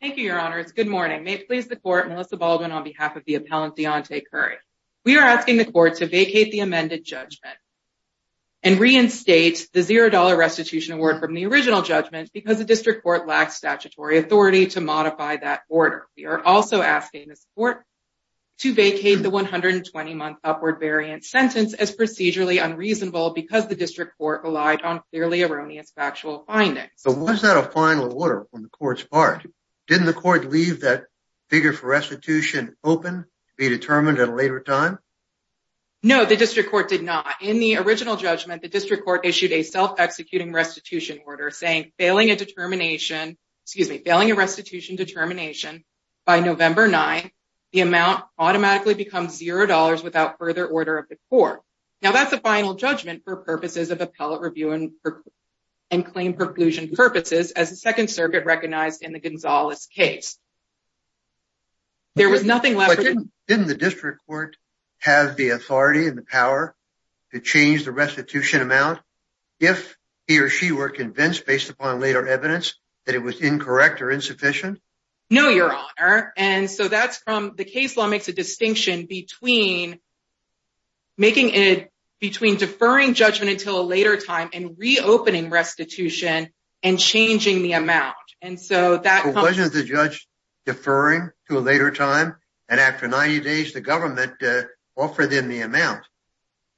Thank you, your honor. It's good morning. May it please the court, Melissa Baldwin, on behalf of the appellant Deonte Curry. We are asking the court to vacate the amended judgment and reinstate the $0 restitution award from the original judgment because the district court lacks statutory authority to modify that order. We are also asking this court to vacate the 120 month upward variant sentence as procedurally unreasonable because the district court relied on clearly erroneous factual findings. Was that a final order from the court's part? Didn't the court leave that figure for restitution open to be determined at a later time? No, the district court did not. In the original judgment, the district court issued a self executing restitution order saying failing a restitution determination by November 9, the amount automatically becomes $0 without further order of the court. Now, that's a final judgment for purposes of appellate review and claim preclusion purposes as the second circuit recognized in the Gonzalez case. Didn't the district court have the authority and the power to change the restitution amount if he or she were convinced based upon later evidence that it was incorrect or insufficient? No, your honor. The case law makes a distinction between making it between deferring judgment until a later time and reopening restitution and changing the amount. So wasn't the judge deferring to a later time and after 90 days, the government offered him the amount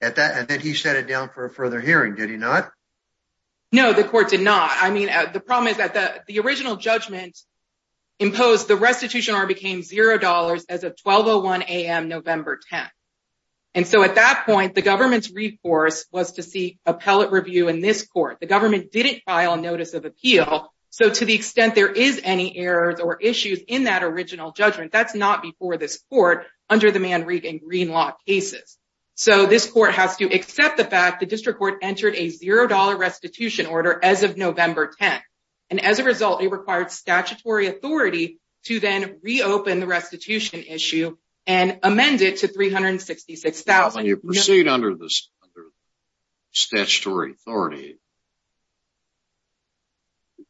and then he sat it down for a further hearing, did he not? No, the court did not. I mean, the problem is that the original judgment imposed the restitution or became $0 as of 1201 AM, November 10. And so at that point, the government's reforce was to see appellate review in this court. The government didn't file a notice of appeal. So to the extent there is any errors or issues in that original judgment, that's not before this court under the Manrique and Green Law cases. So this court has to accept the fact the district court entered a $0 restitution order as of 1201 AM to then reopen the restitution issue and amend it to $366,000. When you proceed under this statutory authority,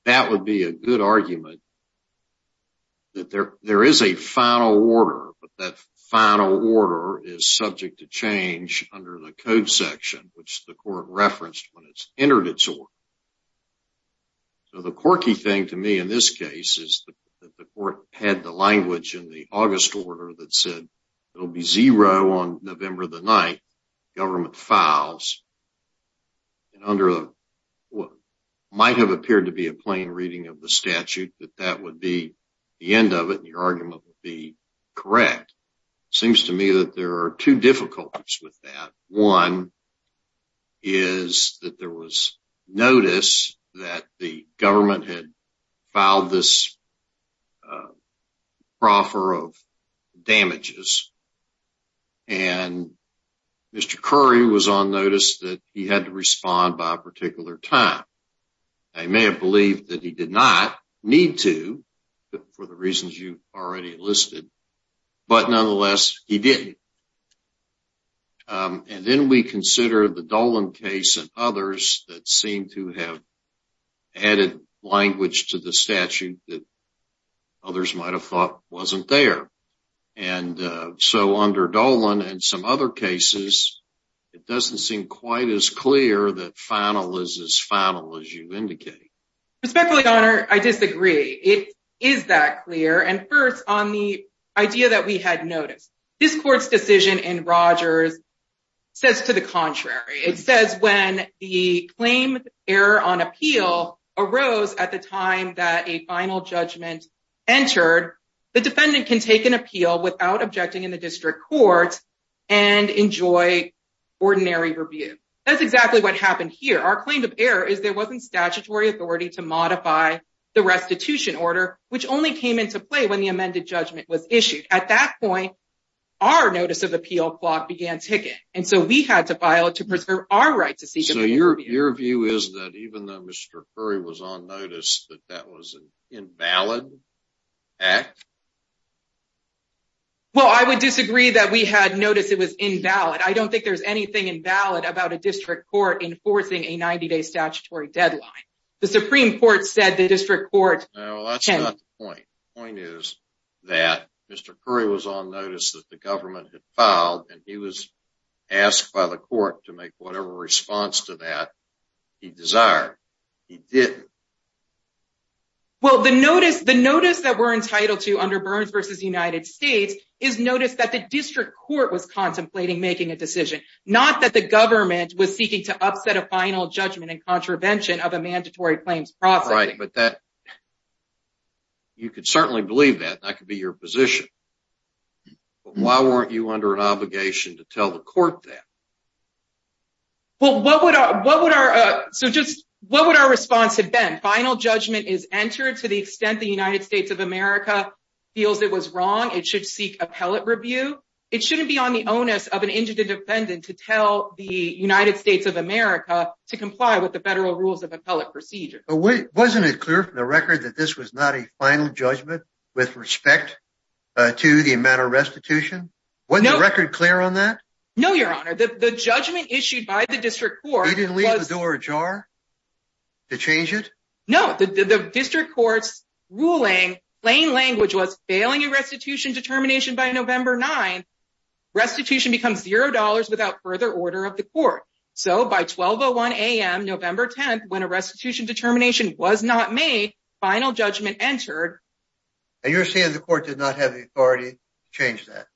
that would be a good argument that there is a final order, but that final order is subject to change under the code section, which the court referenced when it's entered its order. So the quirky thing to me in this case is that the court had the language in the August order that said it'll be $0 on November the 9th, government files, and under what might have appeared to be a plain reading of the statute, that that would be the end of it, and your argument would be correct. It seems to me that there are two difficulties with that. One is that there was notice that the government had filed this proffer of damages, and Mr. Curry was on notice that he had to respond by a particular time. They may have believed that he did not need to for the reasons you already listed, but nonetheless, he did. And then we consider the Dolan case and others that seem to have added language to the statute that others might have thought wasn't there. And so under Dolan and some other cases, it doesn't seem quite as clear that final is as final as you indicate. Respectfully, Your Honor, I disagree. It is that clear. And first, on the idea that we had noticed, this court's decision in Rogers says to the contrary. It says when the claim error on appeal arose at the time that a final judgment entered, the defendant can take an appeal without objecting in the district court and enjoy ordinary review. That's exactly what happened here. Our claim of modify the restitution order, which only came into play when the amended judgment was issued. At that point, our notice of appeal clock began ticking. And so we had to file it to preserve our right to seek an appeal. So your view is that even though Mr. Curry was on notice that that was an invalid act? Well, I would disagree that we had noticed it was invalid. I don't think there's anything invalid about a district court enforcing a 90-day statutory deadline. The Supreme Court said the district court... No, that's not the point. The point is that Mr. Curry was on notice that the government had filed and he was asked by the court to make whatever response to that he desired. He didn't. Well, the notice that we're entitled to under Burns v. United States is notice that the district court was contemplating making a decision, not that the government was seeking to upset a final judgment and contravention of a mandatory claims process. Right, but you could certainly believe that. That could be your position. But why weren't you under an obligation to tell the court that? Well, what would our response have been? Final judgment is entered to the extent the United States would seek appellate review. It shouldn't be on the onus of an indigent defendant to tell the United States of America to comply with the federal rules of appellate procedure. Wasn't it clear from the record that this was not a final judgment with respect to the amount of restitution? Wasn't the record clear on that? No, your honor. The judgment issued by the district court was... They didn't leave the door ajar to change it? No. The district court's ruling, plain language, was failing a restitution determination by November 9th. Restitution becomes zero dollars without further order of the court. So by 12.01 a.m. November 10th, when a restitution determination was not made, final judgment entered. And you're saying the court did not have the authority to change that?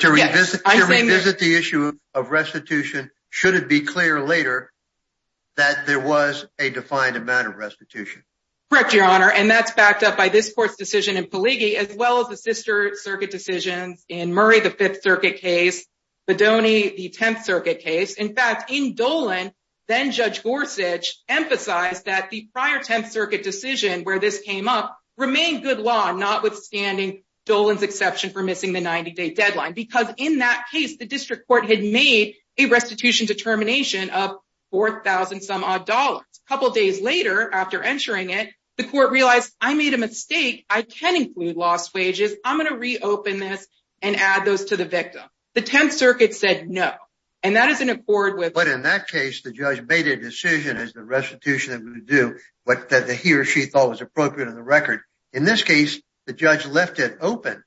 To revisit the issue of restitution, should it be clear later that there was a defined amount of restitution? Correct, your honor. And that's backed up by this court's decision in Paligi, as well as the sister circuit decisions in Murray, the Fifth Circuit case, Bodoni, the Tenth Circuit case. In fact, in Dolan, then Judge Gorsuch emphasized that the prior Tenth Circuit decision where this came up remained good law, notwithstanding Dolan's exception for missing the 90-day deadline. Because in that case, the district court had made a restitution determination of 4,000 some odd dollars. A couple days later, after entering it, the court realized, I made a mistake. I can include lost wages. I'm going to reopen this and add those to the victim. The Tenth Circuit said no. And that is in accord with... But in that case, the judge made a decision as the restitution that would do what he or she thought was appropriate on the record. In this case, the judge left it open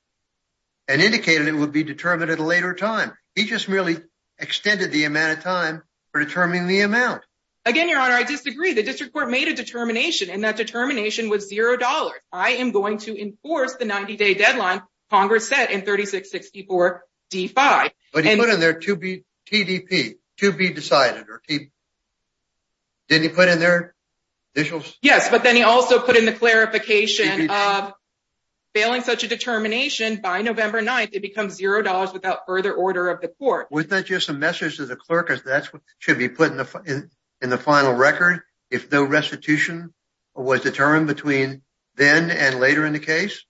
and indicated it would be determined at a later time. He just merely extended the amount of time for determining the amount. Again, your honor, I disagree. The district court made a determination, and that determination was zero dollars. I am going to enforce the 90-day deadline Congress set in 3664 D-5. But he put in there TDP, to be decided. Didn't he put in there TDP? Yes, but then he also put in the clarification of failing such a determination by November 9th, it becomes zero dollars without further order of the court. Was that just a message to the clerk that that's what should be put in the final record? If no restitution was determined between then and later in the case?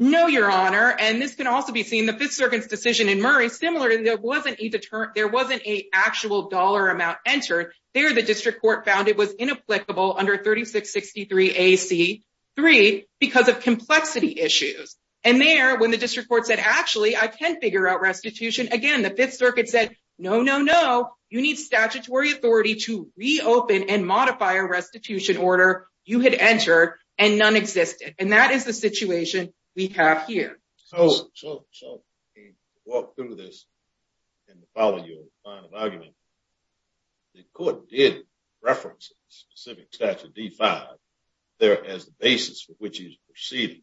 No, your honor. And this can also be seen in the Fifth Circuit's decision in Murray. There wasn't a actual dollar amount entered. There, the district court found it was inapplicable under 3663 A.C. 3 because of complexity issues. And there, when the district court said, actually, I can figure out restitution. Again, the Fifth Circuit said, no, no, no. You need statutory authority to reopen and modify a restitution order you had entered, and none existed. And that is the situation we have here. So, walk through this and follow your final argument. The court did reference a specific statute, D-5, there as the basis for which he's proceeding.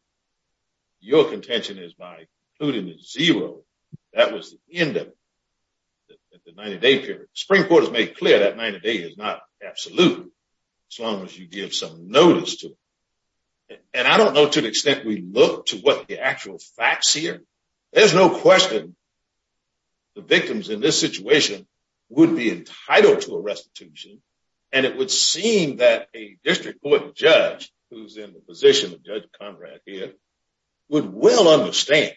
Your contention is by including the zero, that was the end of it, at the 90-day period. The Supreme Court has made clear that 90-day is not absolute as long as you give some notice to it. And I don't know to the extent we look to what the actual facts here, there's no question the victims in this situation would be entitled to a restitution. And it would seem that a district court judge who's in the position of Judge Conrad here would well understand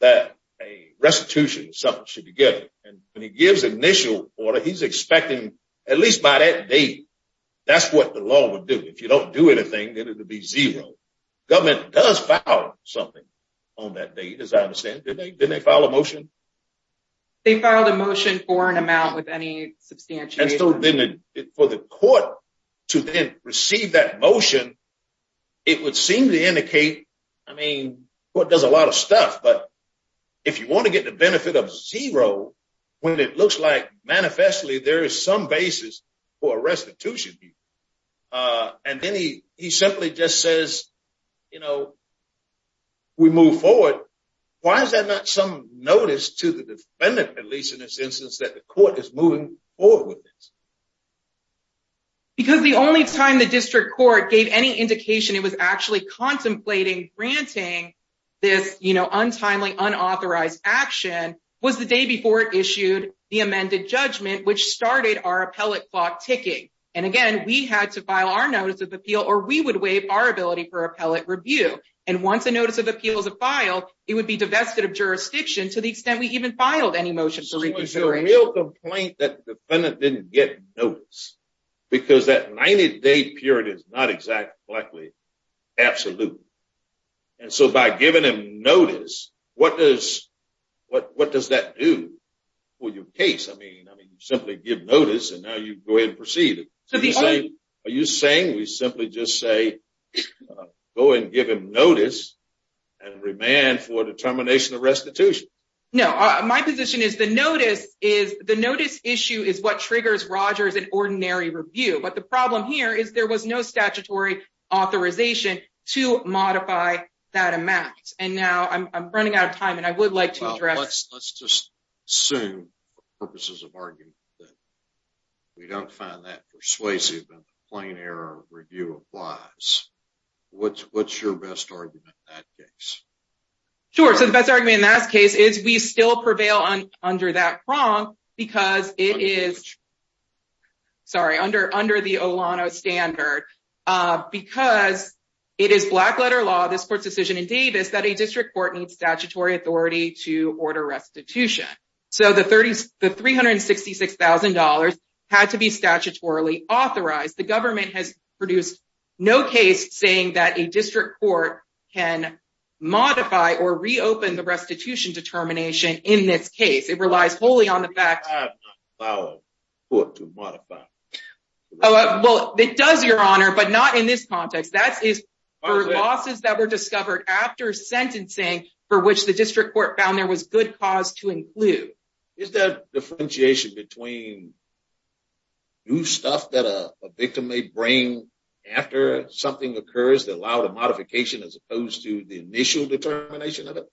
that a restitution or something should be given. And when he gives initial order, he's expecting, at least by that date, that's what the law would do. If you don't do anything, then it would be zero. Government does file something on that date, as I understand. Didn't they file a motion? They filed a motion for an amount with any substantiation. And so, for the court to then receive that motion, it would seem to indicate, I mean, the court does a lot of stuff, but if you want to get the benefit of zero when it looks like there is some basis for a restitution. And then he simply just says, you know, we move forward. Why is that not some notice to the defendant, at least in this instance, that the court is moving forward with this? Because the only time the district court gave any indication it was actually contemplating granting this, you know, untimely, unauthorized action was the day before it issued the amended judgment, which started our appellate clock ticking. And again, we had to file our notice of appeal, or we would waive our ability for appellate review. And once a notice of appeal is a file, it would be divested of jurisdiction to the extent we even filed any motion for reconsideration. So, is there a real complaint that the defendant didn't get notice? Because that 90-day period is not exactly absolute. And so, by giving him notice, what does that do for your case? I mean, you simply give notice, and now you go ahead and proceed. Are you saying we simply just say, go and give him notice and remand for determination of restitution? No, my position is the notice issue is what triggers an ordinary review. But the problem here is there was no statutory authorization to modify that amount. And now I'm running out of time, and I would like to address... Let's just assume, for purposes of argument, that we don't find that persuasive and plain error review applies. What's your best argument in that case? Sure. So, the best argument in that case is we still prevail under that prong because it is... Sorry, under the Olano standard, because it is black-letter law, this court's decision in Davis, that a district court needs statutory authority to order restitution. So, the $366,000 had to be statutorily authorized. The government has produced no case saying that a district court can modify or reopen the restitution determination in this case. It relies wholly on the fact... It does, Your Honor, but not in this context. That is for losses that were discovered after sentencing for which the district court found there was good cause to include. Is that differentiation between new stuff that a victim may bring after something occurs that allowed a modification as opposed to the initial determination of it?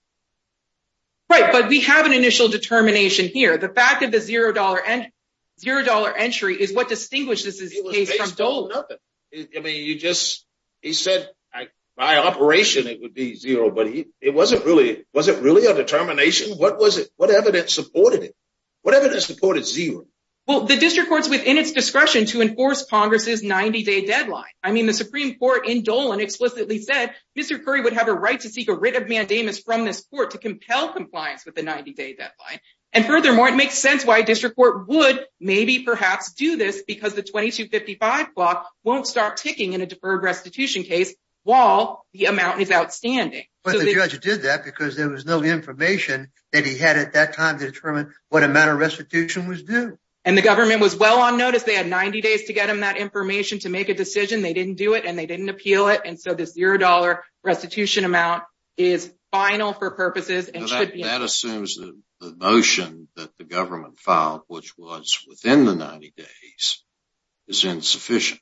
Right, but we have an initial determination here. The fact of the $0 entry is what distinguishes this case from Dole. It was based on nothing. I mean, you just... He said, by operation, it would be zero, but it wasn't really... Was it really a determination? What evidence supported it? What evidence supported zero? Well, the district court's within its discretion to enforce Congress's 90-day deadline. I mean, the Supreme Court in Dolan explicitly said Mr. Curry would have a right to seek a writ of mandamus from this court to compel compliance with the 90-day deadline. And furthermore, it makes sense why a district court would maybe perhaps do this because the 2255 block won't start ticking in a deferred restitution case while the amount is outstanding. But the judge did that because there was no information that he had at that time to determine what amount of restitution was due. And the government was well on notice. They had 90 days to get him that information to make a decision. They didn't do it and they didn't appeal it. And so this $0 restitution amount is final for purposes and should be... That assumes that the motion that the government filed, which was within the 90 days, is insufficient.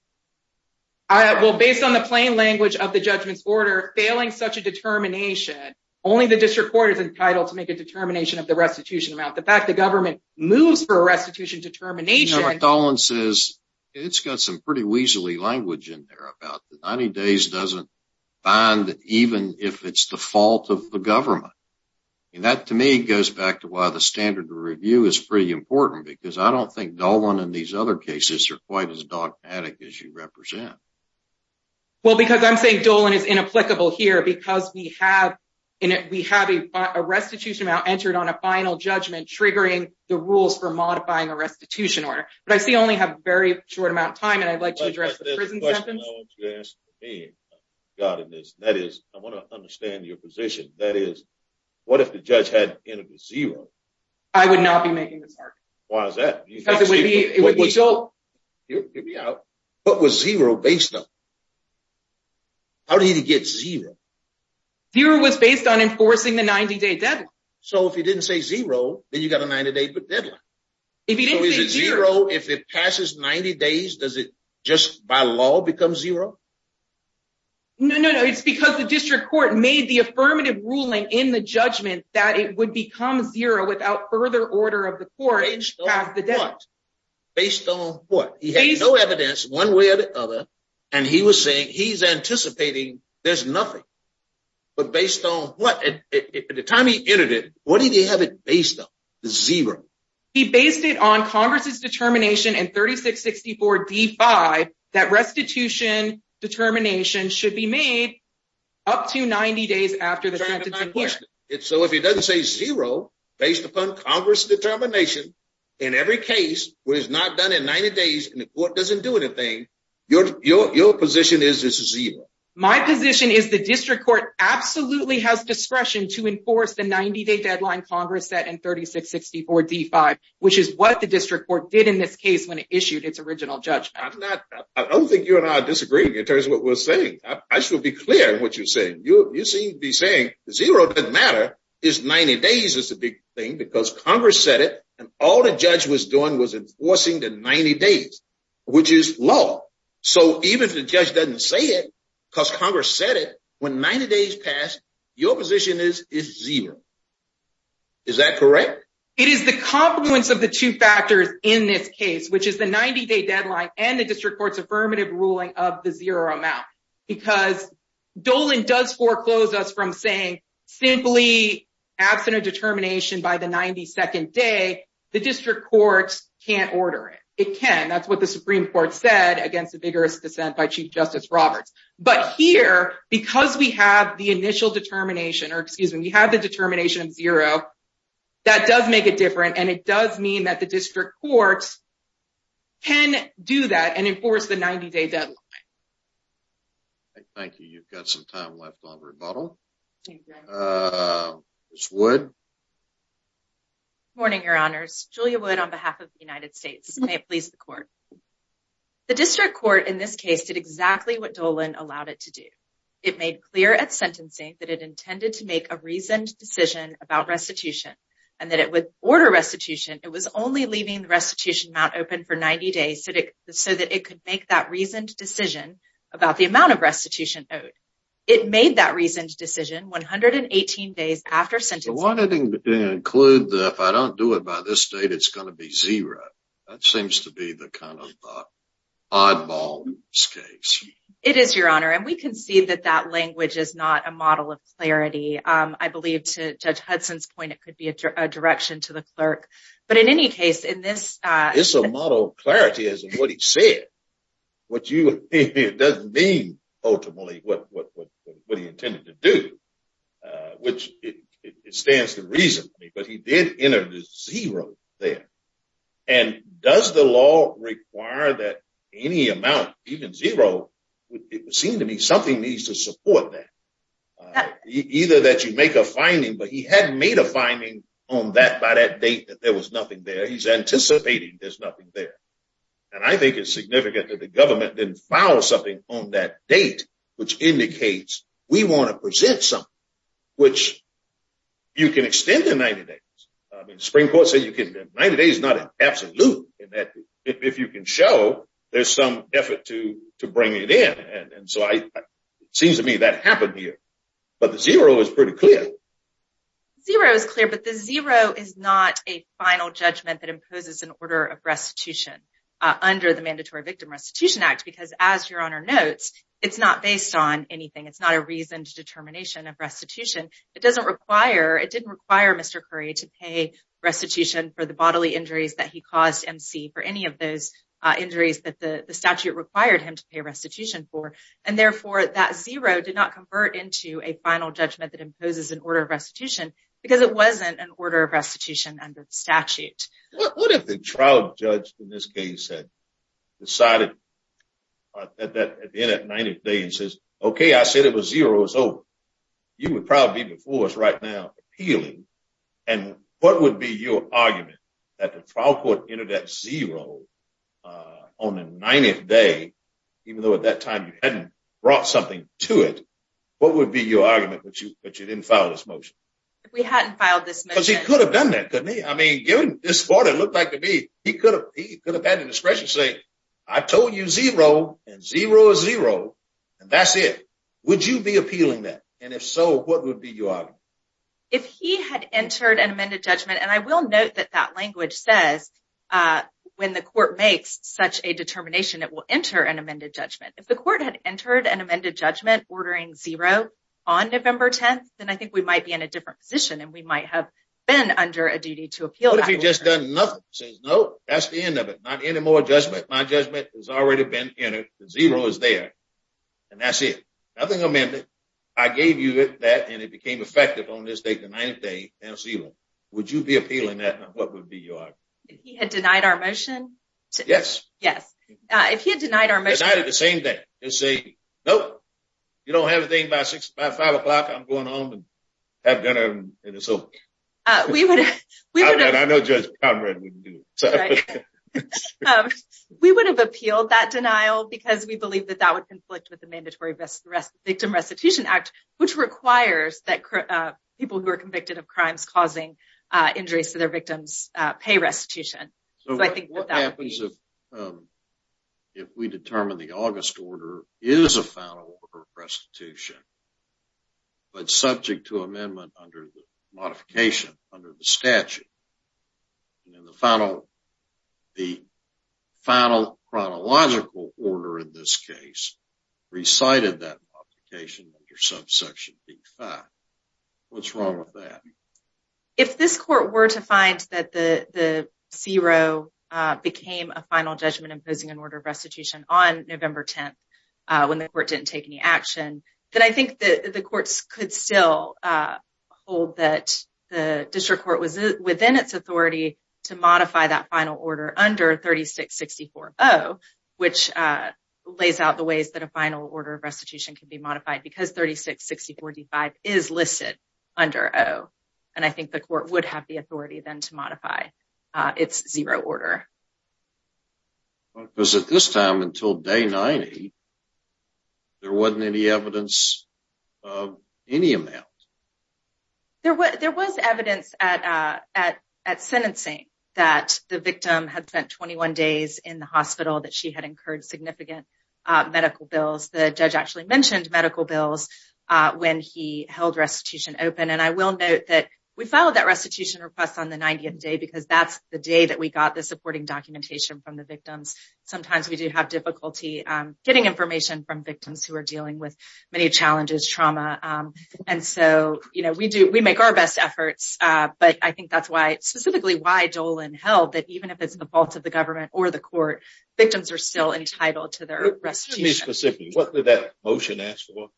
All right. Well, based on the plain language of the judgment's order, failing such a determination, only the district court is entitled to make a determination of the restitution amount. The fact the government moves for a restitution determination... It's got some pretty weaselly language in there about the 90 days doesn't bind even if it's the fault of the government. And that, to me, goes back to why the standard review is pretty important because I don't think Dolan and these other cases are quite as dogmatic as you represent. Well, because I'm saying Dolan is inapplicable here because we have a restitution amount entered on a final judgment triggering the rules for modifying a restitution order. But I see only have a very short amount of time and I'd like to address the prison sentence. There's a question I want you to answer for me, God in this. That is, I want to understand your position. That is, what if the judge had entered a zero? I would not be making this argument. Why is that? Because it would be out. What was zero based on? How did he get zero? Zero was based on enforcing the 90 day deadline. So if he didn't say zero, then you got a 90 day deadline. If he didn't say zero, if it passes 90 days, does it just by law become zero? No, no, no. It's because the district court made the affirmative ruling in the judgment that it would become zero without further order of the court. Based on what? He had no evidence one way or the other. And he was saying he's anticipating there's nothing. But based on what, at the time he entered it, what did he have it based on? Zero. He based it on Congress's determination in 3664 D5 that restitution determination should be made up to 90 days after the sentence. So if he doesn't say zero based upon Congress determination in every case where it's not done in 90 days and the court doesn't do anything, your position is it's zero. My position is the district court absolutely has discretion to enforce the 90 day deadline Congress set in 3664 D5, which is what the district court did in this case when it issued its original judgment. I don't think you and I are disagreeing in terms of what we're saying. I should be clear in what you're saying. You seem to be saying zero doesn't matter. It's 90 days is the big thing because Congress said it and all the judge was doing was enforcing the 90 days, which is low. So even if the judge doesn't say it because Congress said it, when 90 days passed, your position is it's zero. Is that correct? It is the confluence of the two factors in this case, which is the 90 day deadline and the district court's affirmative ruling of the zero amount. Because Dolan does foreclose us from saying simply absent of can't order it. It can. That's what the Supreme Court said against the vigorous dissent by Chief Justice Roberts. But here, because we have the initial determination, or excuse me, we have the determination of zero, that does make it different. And it does mean that the district courts can do that and enforce the 90 day deadline. Thank you. You've got some left on rebuttal. Uh, it's wood morning, your honors. Julia would on behalf of the United States. May it please the court. The district court in this case did exactly what Dolan allowed it to do. It made clear at sentencing that it intended to make a reasoned decision about restitution and that it would order restitution. It was only leaving the restitution mount open for 90 days so that it could make that reasoned decision about the amount of restitution owed. It made that reasoned decision. 118 days after sentencing, including if I don't do it by this date, it's going to be zero. That seems to be the kind of oddball case. It is your honor. And we can see that that language is not a model of clarity. I believe to judge Hudson's point, it could be a direction to the clerk. But in any case, in this, uh, it's a model clarity as what he said, what you, it doesn't mean ultimately what, what, what, what he intended to do, which it stands to reason, but he did enter the zero there. And does the law require that any amount, even zero, it would seem to me something needs to support that. Either that you make a finding, but he hadn't made a finding on that by that date, that there was nothing there. He's anticipating there's nothing there. And I think it's significant that the government didn't file something on that date, which indicates we want to present something which you can extend the 90 days. I mean, the spring court said you can 90 days, not an absolute in that if you can show there's some effort to bring it in. And so I, it seems to me that but the zero is pretty clear. Zero is clear, but the zero is not a final judgment that imposes an order of restitution, uh, under the mandatory victim restitution act, because as your honor notes, it's not based on anything. It's not a reason to determination of restitution. It doesn't require, it didn't require mr. Curry to pay restitution for the bodily injuries that he caused MC for any of those injuries that the statute required him to pay restitution for. And therefore that zero did not convert into a final judgment that imposes an order of restitution because it wasn't an order of restitution under the statute. What if the trial judge in this case had decided that at the end of 90 days says, okay, I said it was zero. So you would probably be before us right now appealing. And what would be your argument that the trial court entered that zero, uh, on the 90th day, even though at that time you hadn't brought something to it, what would be your argument? But you, but you didn't file this motion. If we hadn't filed this because he could have done that. Couldn't he? I mean, given this sport, it looked like to me, he could have, he could have had a discretion to say, I told you zero and zero zero and that's it. Would you be appealing that? And if so, what would be your if he had entered an amended judgment? And I will note that that language says, uh, when the court makes such a determination, it will enter an amended judgment. If the court had entered an amended judgment ordering zero on November 10th, then I think we might be in a different position and we might have been under a duty to appeal. If he just done nothing, says, no, that's the end of it. Not anymore. Judgment. My judgment has already been entered. Zero is there and that's it. Nothing amended. I gave you that and it became effective on this date, the ninth day and zero. Would you be appealing that? And what would be your, he had denied our motion. Yes. Yes. Uh, if he had denied our motion, the same day and say, nope, you don't have a thing by six, five, five o'clock. I'm going home and have dinner. And so, uh, we would, we would, and I know judge Conrad wouldn't do it. Um, we would have appealed that denial because we believe that that would conflict with the mandatory best rest victim restitution act, which requires that people who are convicted of crimes causing, uh, injuries to their victims, uh, pay restitution. So I think what happens if, um, if we determine the August order is a final restitution, but subject to amendment under the modification under the statute and in the final, the final chronological order in this case, recited that modification under subsection B5. What's wrong with that? If this court were to find that the, the zero, uh, became a final judgment imposing an order of restitution on November 10th, uh, when the court didn't take any action, then I think that the courts could still, uh, hold that the district court was within its authority to modify that final order under 36, 64. Oh, which, uh, lays out the ways that a final order of restitution can be modified because 36, 64 D five is listed under. Oh, and I think the court would have the authority then to modify, uh, it's zero order because at this time until day 90, there wasn't any evidence of any amount. There was, there was evidence at, uh, at, at sentencing that the victim had spent 21 days in the hospital that she had incurred significant, uh, medical bills. The judge actually mentioned medical bills, uh, when he held restitution open. And I will note that we followed that restitution request on the 90th day, because that's the day that we got the supporting documentation from the victims. Sometimes we do have difficulty, um, getting information from victims who are dealing with many challenges, trauma. Um, and so, you know, we do, we make our best efforts. Uh, but I think that's why specifically why Dolan held that even if it's the fault of the government or the court, victims are still entitled to their restitution. What did that motion ask for?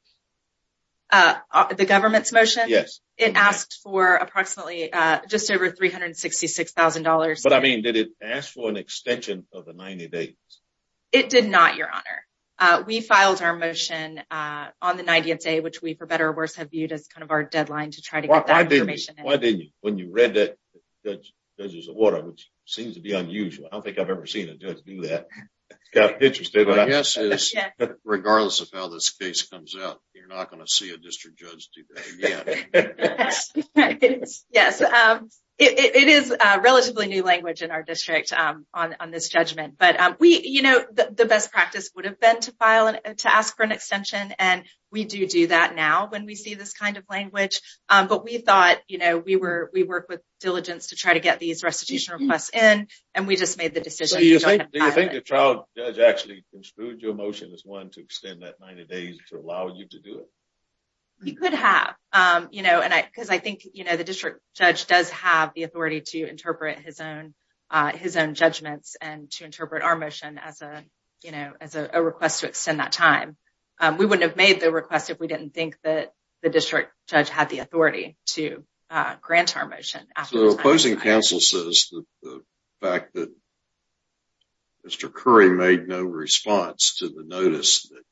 Uh, the government's motion. Yes. It asked for approximately, uh, just over $366,000. But I mean, did it ask for an extension of the 90 days? It did not, Your Honor. Uh, we filed our motion, uh, on the 90th day, which we for better or worse have viewed as kind of our deadline to try to get that information. Why didn't you? When you read that judge's order, which seems to be unusual. I don't think I've ever seen a judge do that. Got interested, but I guess regardless of how this case comes out, you're not going to see a district judge do that. Yes. Um, it, it is a relatively new language in district, um, on, on this judgment. But, um, we, you know, the best practice would have been to file and to ask for an extension. And we do do that now when we see this kind of language. Um, but we thought, you know, we were, we work with diligence to try to get these restitution requests in and we just made the decision. Do you think the trial judge actually construed your motion as one to extend that 90 days to allow you to do it? You could have, um, you know, and I, I think, you know, the district judge does have the authority to interpret his own, uh, his own judgments and to interpret our motion as a, you know, as a request to extend that time. We wouldn't have made the request if we didn't think that the district judge had the authority to, uh, grant our motion. The opposing counsel says the fact that Mr. Curry made no response to the notice that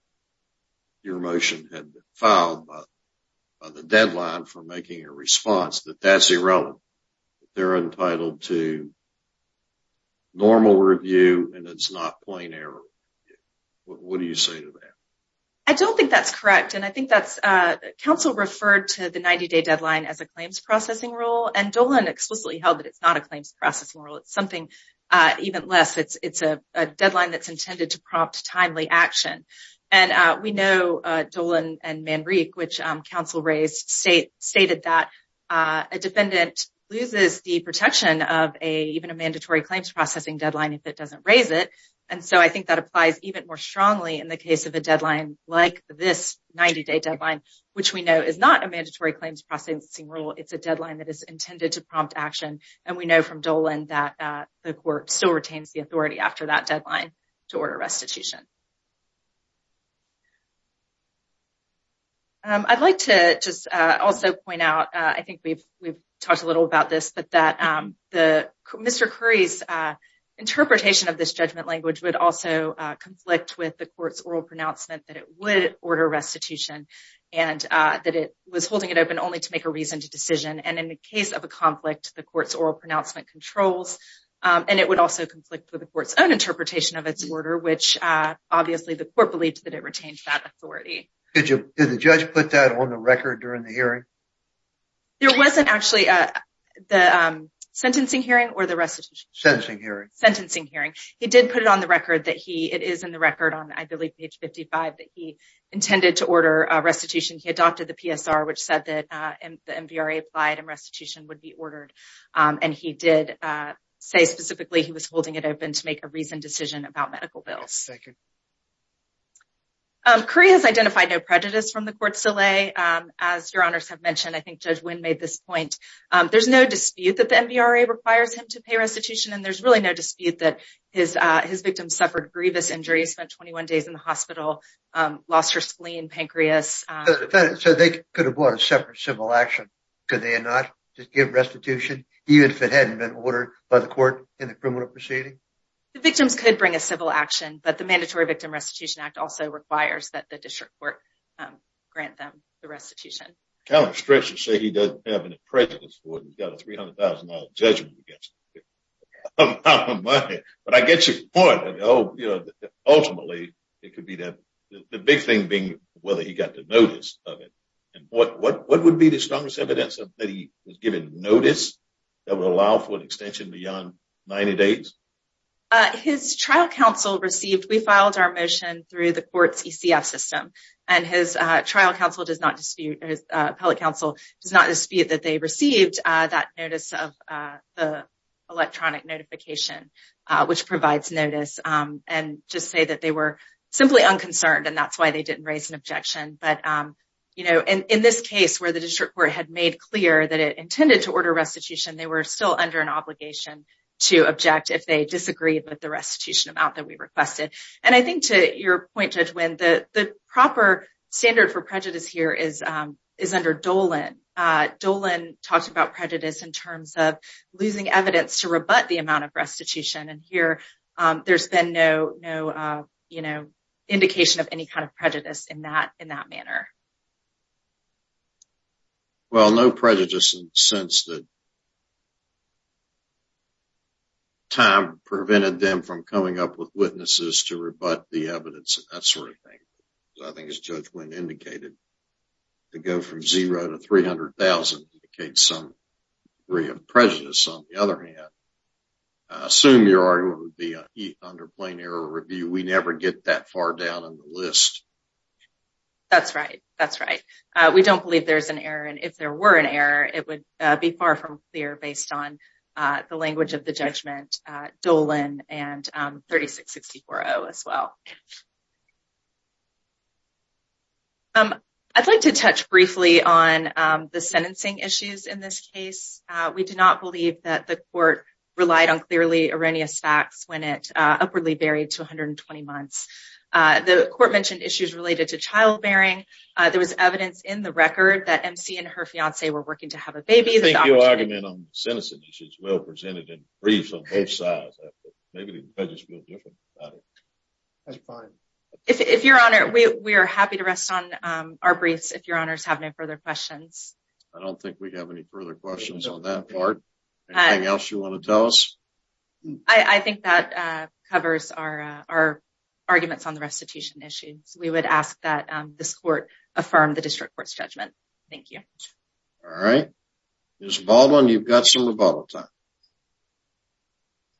your motion had been filed by the deadline for making a response, that that's irrelevant. They're entitled to normal review and it's not plain error. What do you say to that? I don't think that's correct. And I think that's, uh, counsel referred to the 90 day deadline as a claims processing rule and Dolan explicitly held that it's not a claims processing rule. It's something, uh, even less. It's, it's a deadline that's intended to prompt timely action. And, uh, we know, uh, Dolan and Manrique, which, um, counsel raised state stated that, uh, a defendant loses the protection of a, even a mandatory claims processing deadline if it doesn't raise it. And so I think that applies even more strongly in the case of a deadline like this 90 day deadline, which we know is not a mandatory claims processing rule. It's a deadline that is intended to prompt action. And we know from Dolan that, uh, the court still retains the authority after that deadline to order restitution. Um, I'd like to just, uh, also point out, uh, I think we've, we've talked a little about this, but that, um, the Mr. Curry's, uh, interpretation of this judgment language would also, uh, conflict with the court's oral pronouncement that it would order restitution and, uh, that it was holding it open only to make a reasoned decision. And in the case of a conflict, the court's oral pronouncement controls, um, and it would also conflict with the court's own interpretation of its order, which, uh, obviously the court believed that it retained that authority. Did you, did the judge put that on the record during the hearing? There wasn't actually, uh, the, um, sentencing hearing or the restitution. Sentencing hearing. Sentencing hearing. He did put it on the record that he, it is in the record on, I believe page 55, that he intended to order a restitution. He adopted the PSR, which said that, uh, the MVRA applied and restitution would be ordered. Um, and he did, uh, say specifically, he was holding it open to make a reasoned decision about medical bills. Curry has identified no prejudice from the court's delay. Um, as your honors have mentioned, I think Judge Wynn made this point. Um, there's no dispute that the MVRA requires him to pay restitution and there's really no dispute that his, uh, his victim suffered grievous injuries, spent 21 days in the hospital, um, lost her spleen and pancreas. So they could have bought a separate civil action. Could they not just give restitution, even if it hadn't been ordered by the court in the criminal proceeding? The victims could bring a civil action, but the Mandatory Victim Restitution Act also requires that the district court, um, grant them the restitution. Callum Stretcher said he doesn't have any prejudice for it. He's got a $300,000 judgment against him. But I get your point. I know, you know, ultimately it could be that the big thing whether he got the notice of it and what would be the strongest evidence that he was given notice that would allow for an extension beyond 90 days? His trial counsel received, we filed our motion through the court's ECF system and his trial counsel does not dispute, his appellate counsel does not dispute that they received that notice of the electronic notification, which provides notice and just say that they were simply unconcerned. And that's why they didn't raise an objection. But, um, you know, in this case where the district court had made clear that it intended to order restitution, they were still under an obligation to object if they disagreed with the restitution amount that we requested. And I think to your point, Judge Wynn, the proper standard for prejudice here is, um, is under Dolan. Uh, Dolan talks about prejudice in terms of losing evidence to rebut the amount restitution. And here, um, there's been no, no, uh, you know, indication of any kind of prejudice in that, in that manner. Well, no prejudice in the sense that time prevented them from coming up with witnesses to rebut the evidence and that sort of thing. I think as Judge Wynn indicated, to go from zero to 300,000 indicates some prejudice. On the other hand, I assume your argument would be under plain error review. We never get that far down in the list. That's right. That's right. Uh, we don't believe there's an error. And if there were an error, it would be far from clear based on, uh, the language of the judgment, uh, Dolan and, um, 36-64-0 as well. Um, I'd like to touch briefly on, um, the sentencing issues in this case. Uh, we do not believe that the court relied on clearly erroneous facts when it, uh, upwardly varied to 120 months. Uh, the court mentioned issues related to childbearing. Uh, there was evidence in the record that MC and her fiancé were working to have a baby. I think your argument on sentencing issues is well presented in briefs because it's real different. That's fine. If, if your honor, we, we are happy to rest on, um, our briefs if your honors have no further questions. I don't think we have any further questions on that part. Anything else you want to tell us? I, I think that, uh, covers our, uh, our arguments on the restitution issue. So we would ask that, um, this court affirm the district court's judgment. Thank you. All right. Ms. Baldwin, you've got some rebuttal time.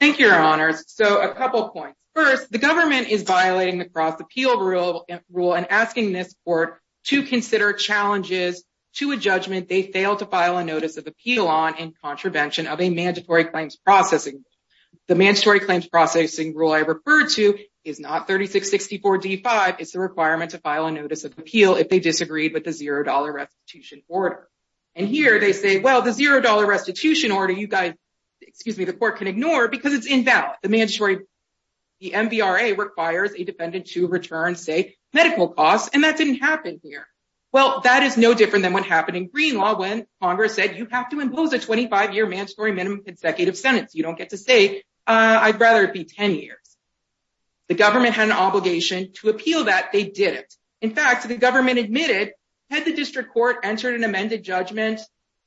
Thank you, your honors. So a couple of points. First, the government is violating the cross appeal rule and asking this court to consider challenges to a judgment they failed to file a notice of appeal on in contravention of a mandatory claims processing. The mandatory claims processing rule I referred to is not 3664 D5. It's the requirement to file a notice of appeal if they disagreed with the $0 restitution order. And here they say, well, the $0 restitution order, you guys, excuse me, the court can ignore because it's invalid. The mandatory, the MVRA requires a defendant to return, say, medical costs. And that didn't happen here. Well, that is no different than what happened in green law when Congress said you have to impose a 25 year mandatory minimum consecutive sentence. You don't get to say, uh, I'd rather it be 10 years. The government had an obligation to appeal that they did it. In fact, the government admitted had the district court entered an amended judgment,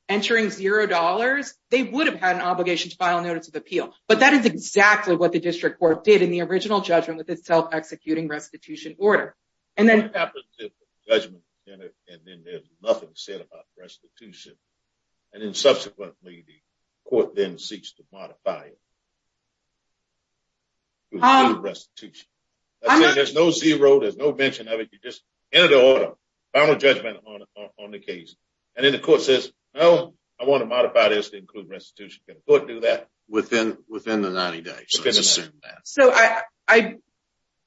entering $0, they would have had an obligation to file a notice of appeal. But that is exactly what the district court did in the original judgment with its self-executing restitution order. And then there's nothing said about restitution. And then subsequently the court then seeks to modify it. Restitution. There's no $0, there's no mention of it. You just enter the order, final judgment on the case. And then the court says, no, I want to modify this to include restitution. Can a court do that? Within the 90 days. So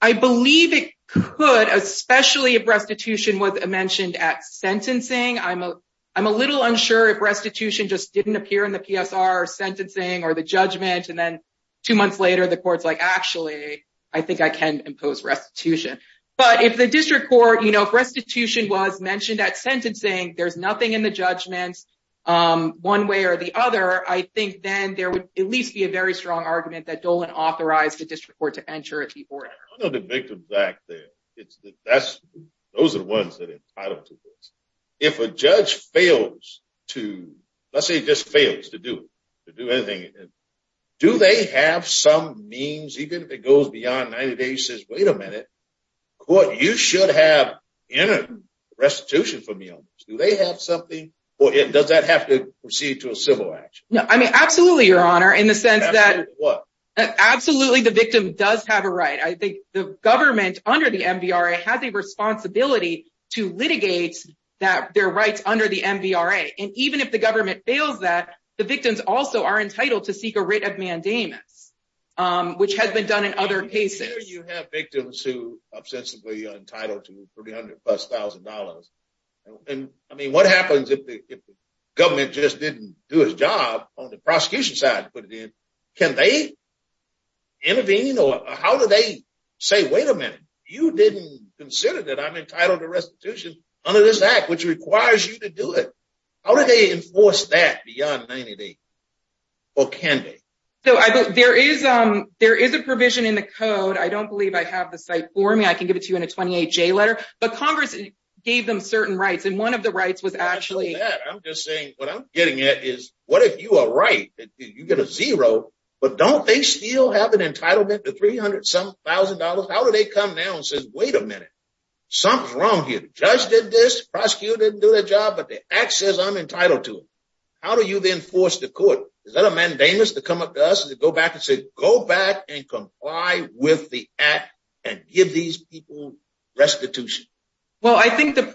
I believe it could, especially if restitution was mentioned at sentencing. I'm a little unsure if restitution just didn't appear in the PSR sentencing or the judgment. And then two months later, the court's like, actually, I think I can impose restitution. But if the district court, you know, restitution was mentioned at sentencing, there's nothing in the judgments, um, one way or the other. I think then there would at least be a very strong argument that Dolan authorized the district court to enter at the order. I know the victims back there. It's the best. Those are the ones that are entitled if a judge fails to, let's say just fails to do, to do anything. Do they have some means, even if it goes beyond 90 days says, wait a minute, court, you should have restitution for me on this. Do they have something or does that have to proceed to a civil action? No, I mean, absolutely. Your honor, in the sense that absolutely the victim does have a right. I have a responsibility to litigate that their rights under the MVRA. And even if the government fails that the victims also are entitled to seek a writ of mandamus, um, which has been done in other cases, you have victims who obsessively untitled to $300,000. And I mean, what happens if the government just didn't do his job on the prosecution side, put it in, can they intervene? How do they say, wait a minute, you didn't consider that I'm entitled to restitution under this act, which requires you to do it. How do they enforce that beyond 90 days or can they? So I, there is, um, there is a provision in the code. I don't believe I have the site for me. I can give it to you in a 28 J letter, but Congress gave them certain rights. And one of the rights was actually, I'm just saying what I'm getting at is what if you are right, you get a zero, but don't they still have an entitlement to $300,000. How do they come down and says, wait a minute, something's wrong here. The judge did this prosecutor didn't do their job, but the access I'm entitled to. How do you then force the court? Is that a mandamus to come up to us and to go back and say, go back and comply with the act and give these people restitution? Well, I think the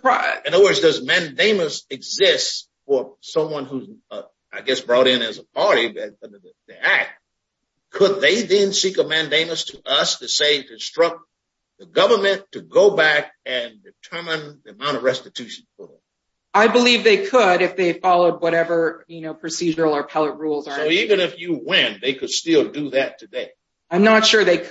mandamus exists for someone who's, uh, I guess brought in as a party, but the act, could they then seek a mandamus to us to say, to instruct the government to go back and determine the amount of restitution. I believe they could, if they followed whatever, you know, procedural or pellet rules. So even if you win, they could still do that today. I'm not sure they and the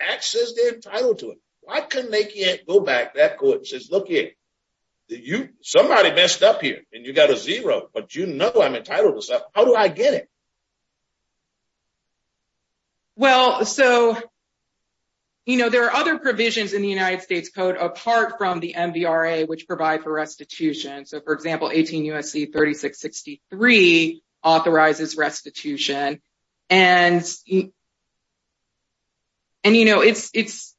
access they're entitled to it. Why couldn't they go back that court and says, look here, you, somebody messed up here and you got a zero, but you know, I'm entitled to stuff. How do I get it? Well, so, you know, there are other provisions in the United States code apart from the MVRA, which provide for restitution. So for example, 18 USC 3663 authorizes restitution and, and, you know, it's, it's,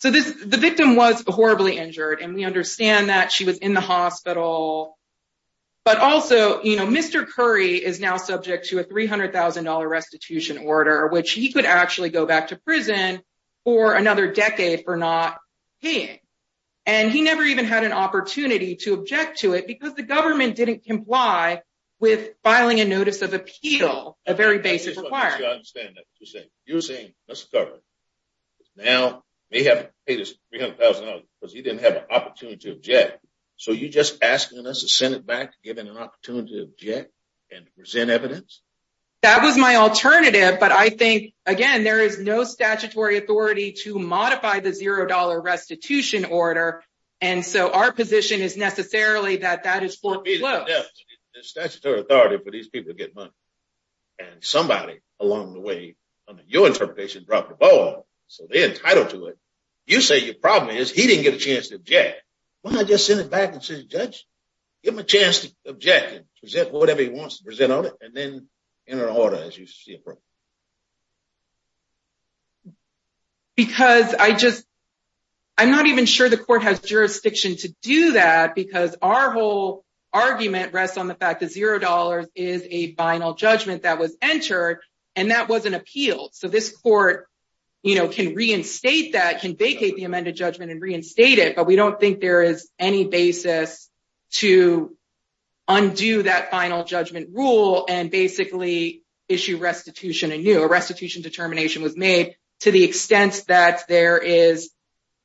so this, the victim was horribly injured and we understand that she was in the hospital, but also, you know, Mr. Curry is now subject to a $300,000 restitution order, which he could actually go back to prison for another decade for not paying. And he never even had an opportunity to object to it because the government didn't comply with filing a notice of appeal, a very basic requirement. I just want to make sure I understand that. You're saying Mr. Curry is now, may have paid his $300,000 because he didn't have an opportunity to object. So you're just asking us to send it back, given an opportunity to object and present evidence? That was my alternative. But I think, again, there is no statutory authority to modify the zero dollar restitution order. And so our position is necessarily that that is foreclosed. There's statutory authority for these people to get money. And somebody along the way, under your interpretation, dropped the ball, so they're entitled to it. You say your problem is he didn't get a chance to object. Why not just send it back and say, judge, give him a chance to object and present whatever he wants to present on it and then enter an order as you see appropriate. Because I just, I'm not even sure the court has jurisdiction to do that because our whole, argument rests on the fact that zero dollars is a final judgment that was entered and that wasn't appealed. So this court can reinstate that, can vacate the amended judgment and reinstate it. But we don't think there is any basis to undo that final judgment rule and basically issue restitution anew. A restitution determination was made to the extent that there is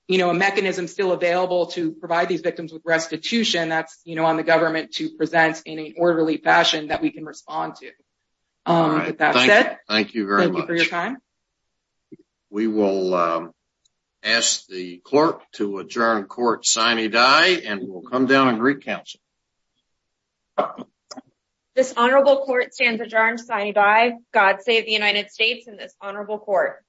a mechanism still available to provide these victims with restitution that's on the government to present in an orderly fashion that we can respond to. That's it. Thank you very much. Thank you for your time. We will ask the clerk to adjourn court sine die and we'll come down and re-counsel. This honorable court stands adjourned sine die. God save the United States and this honorable court.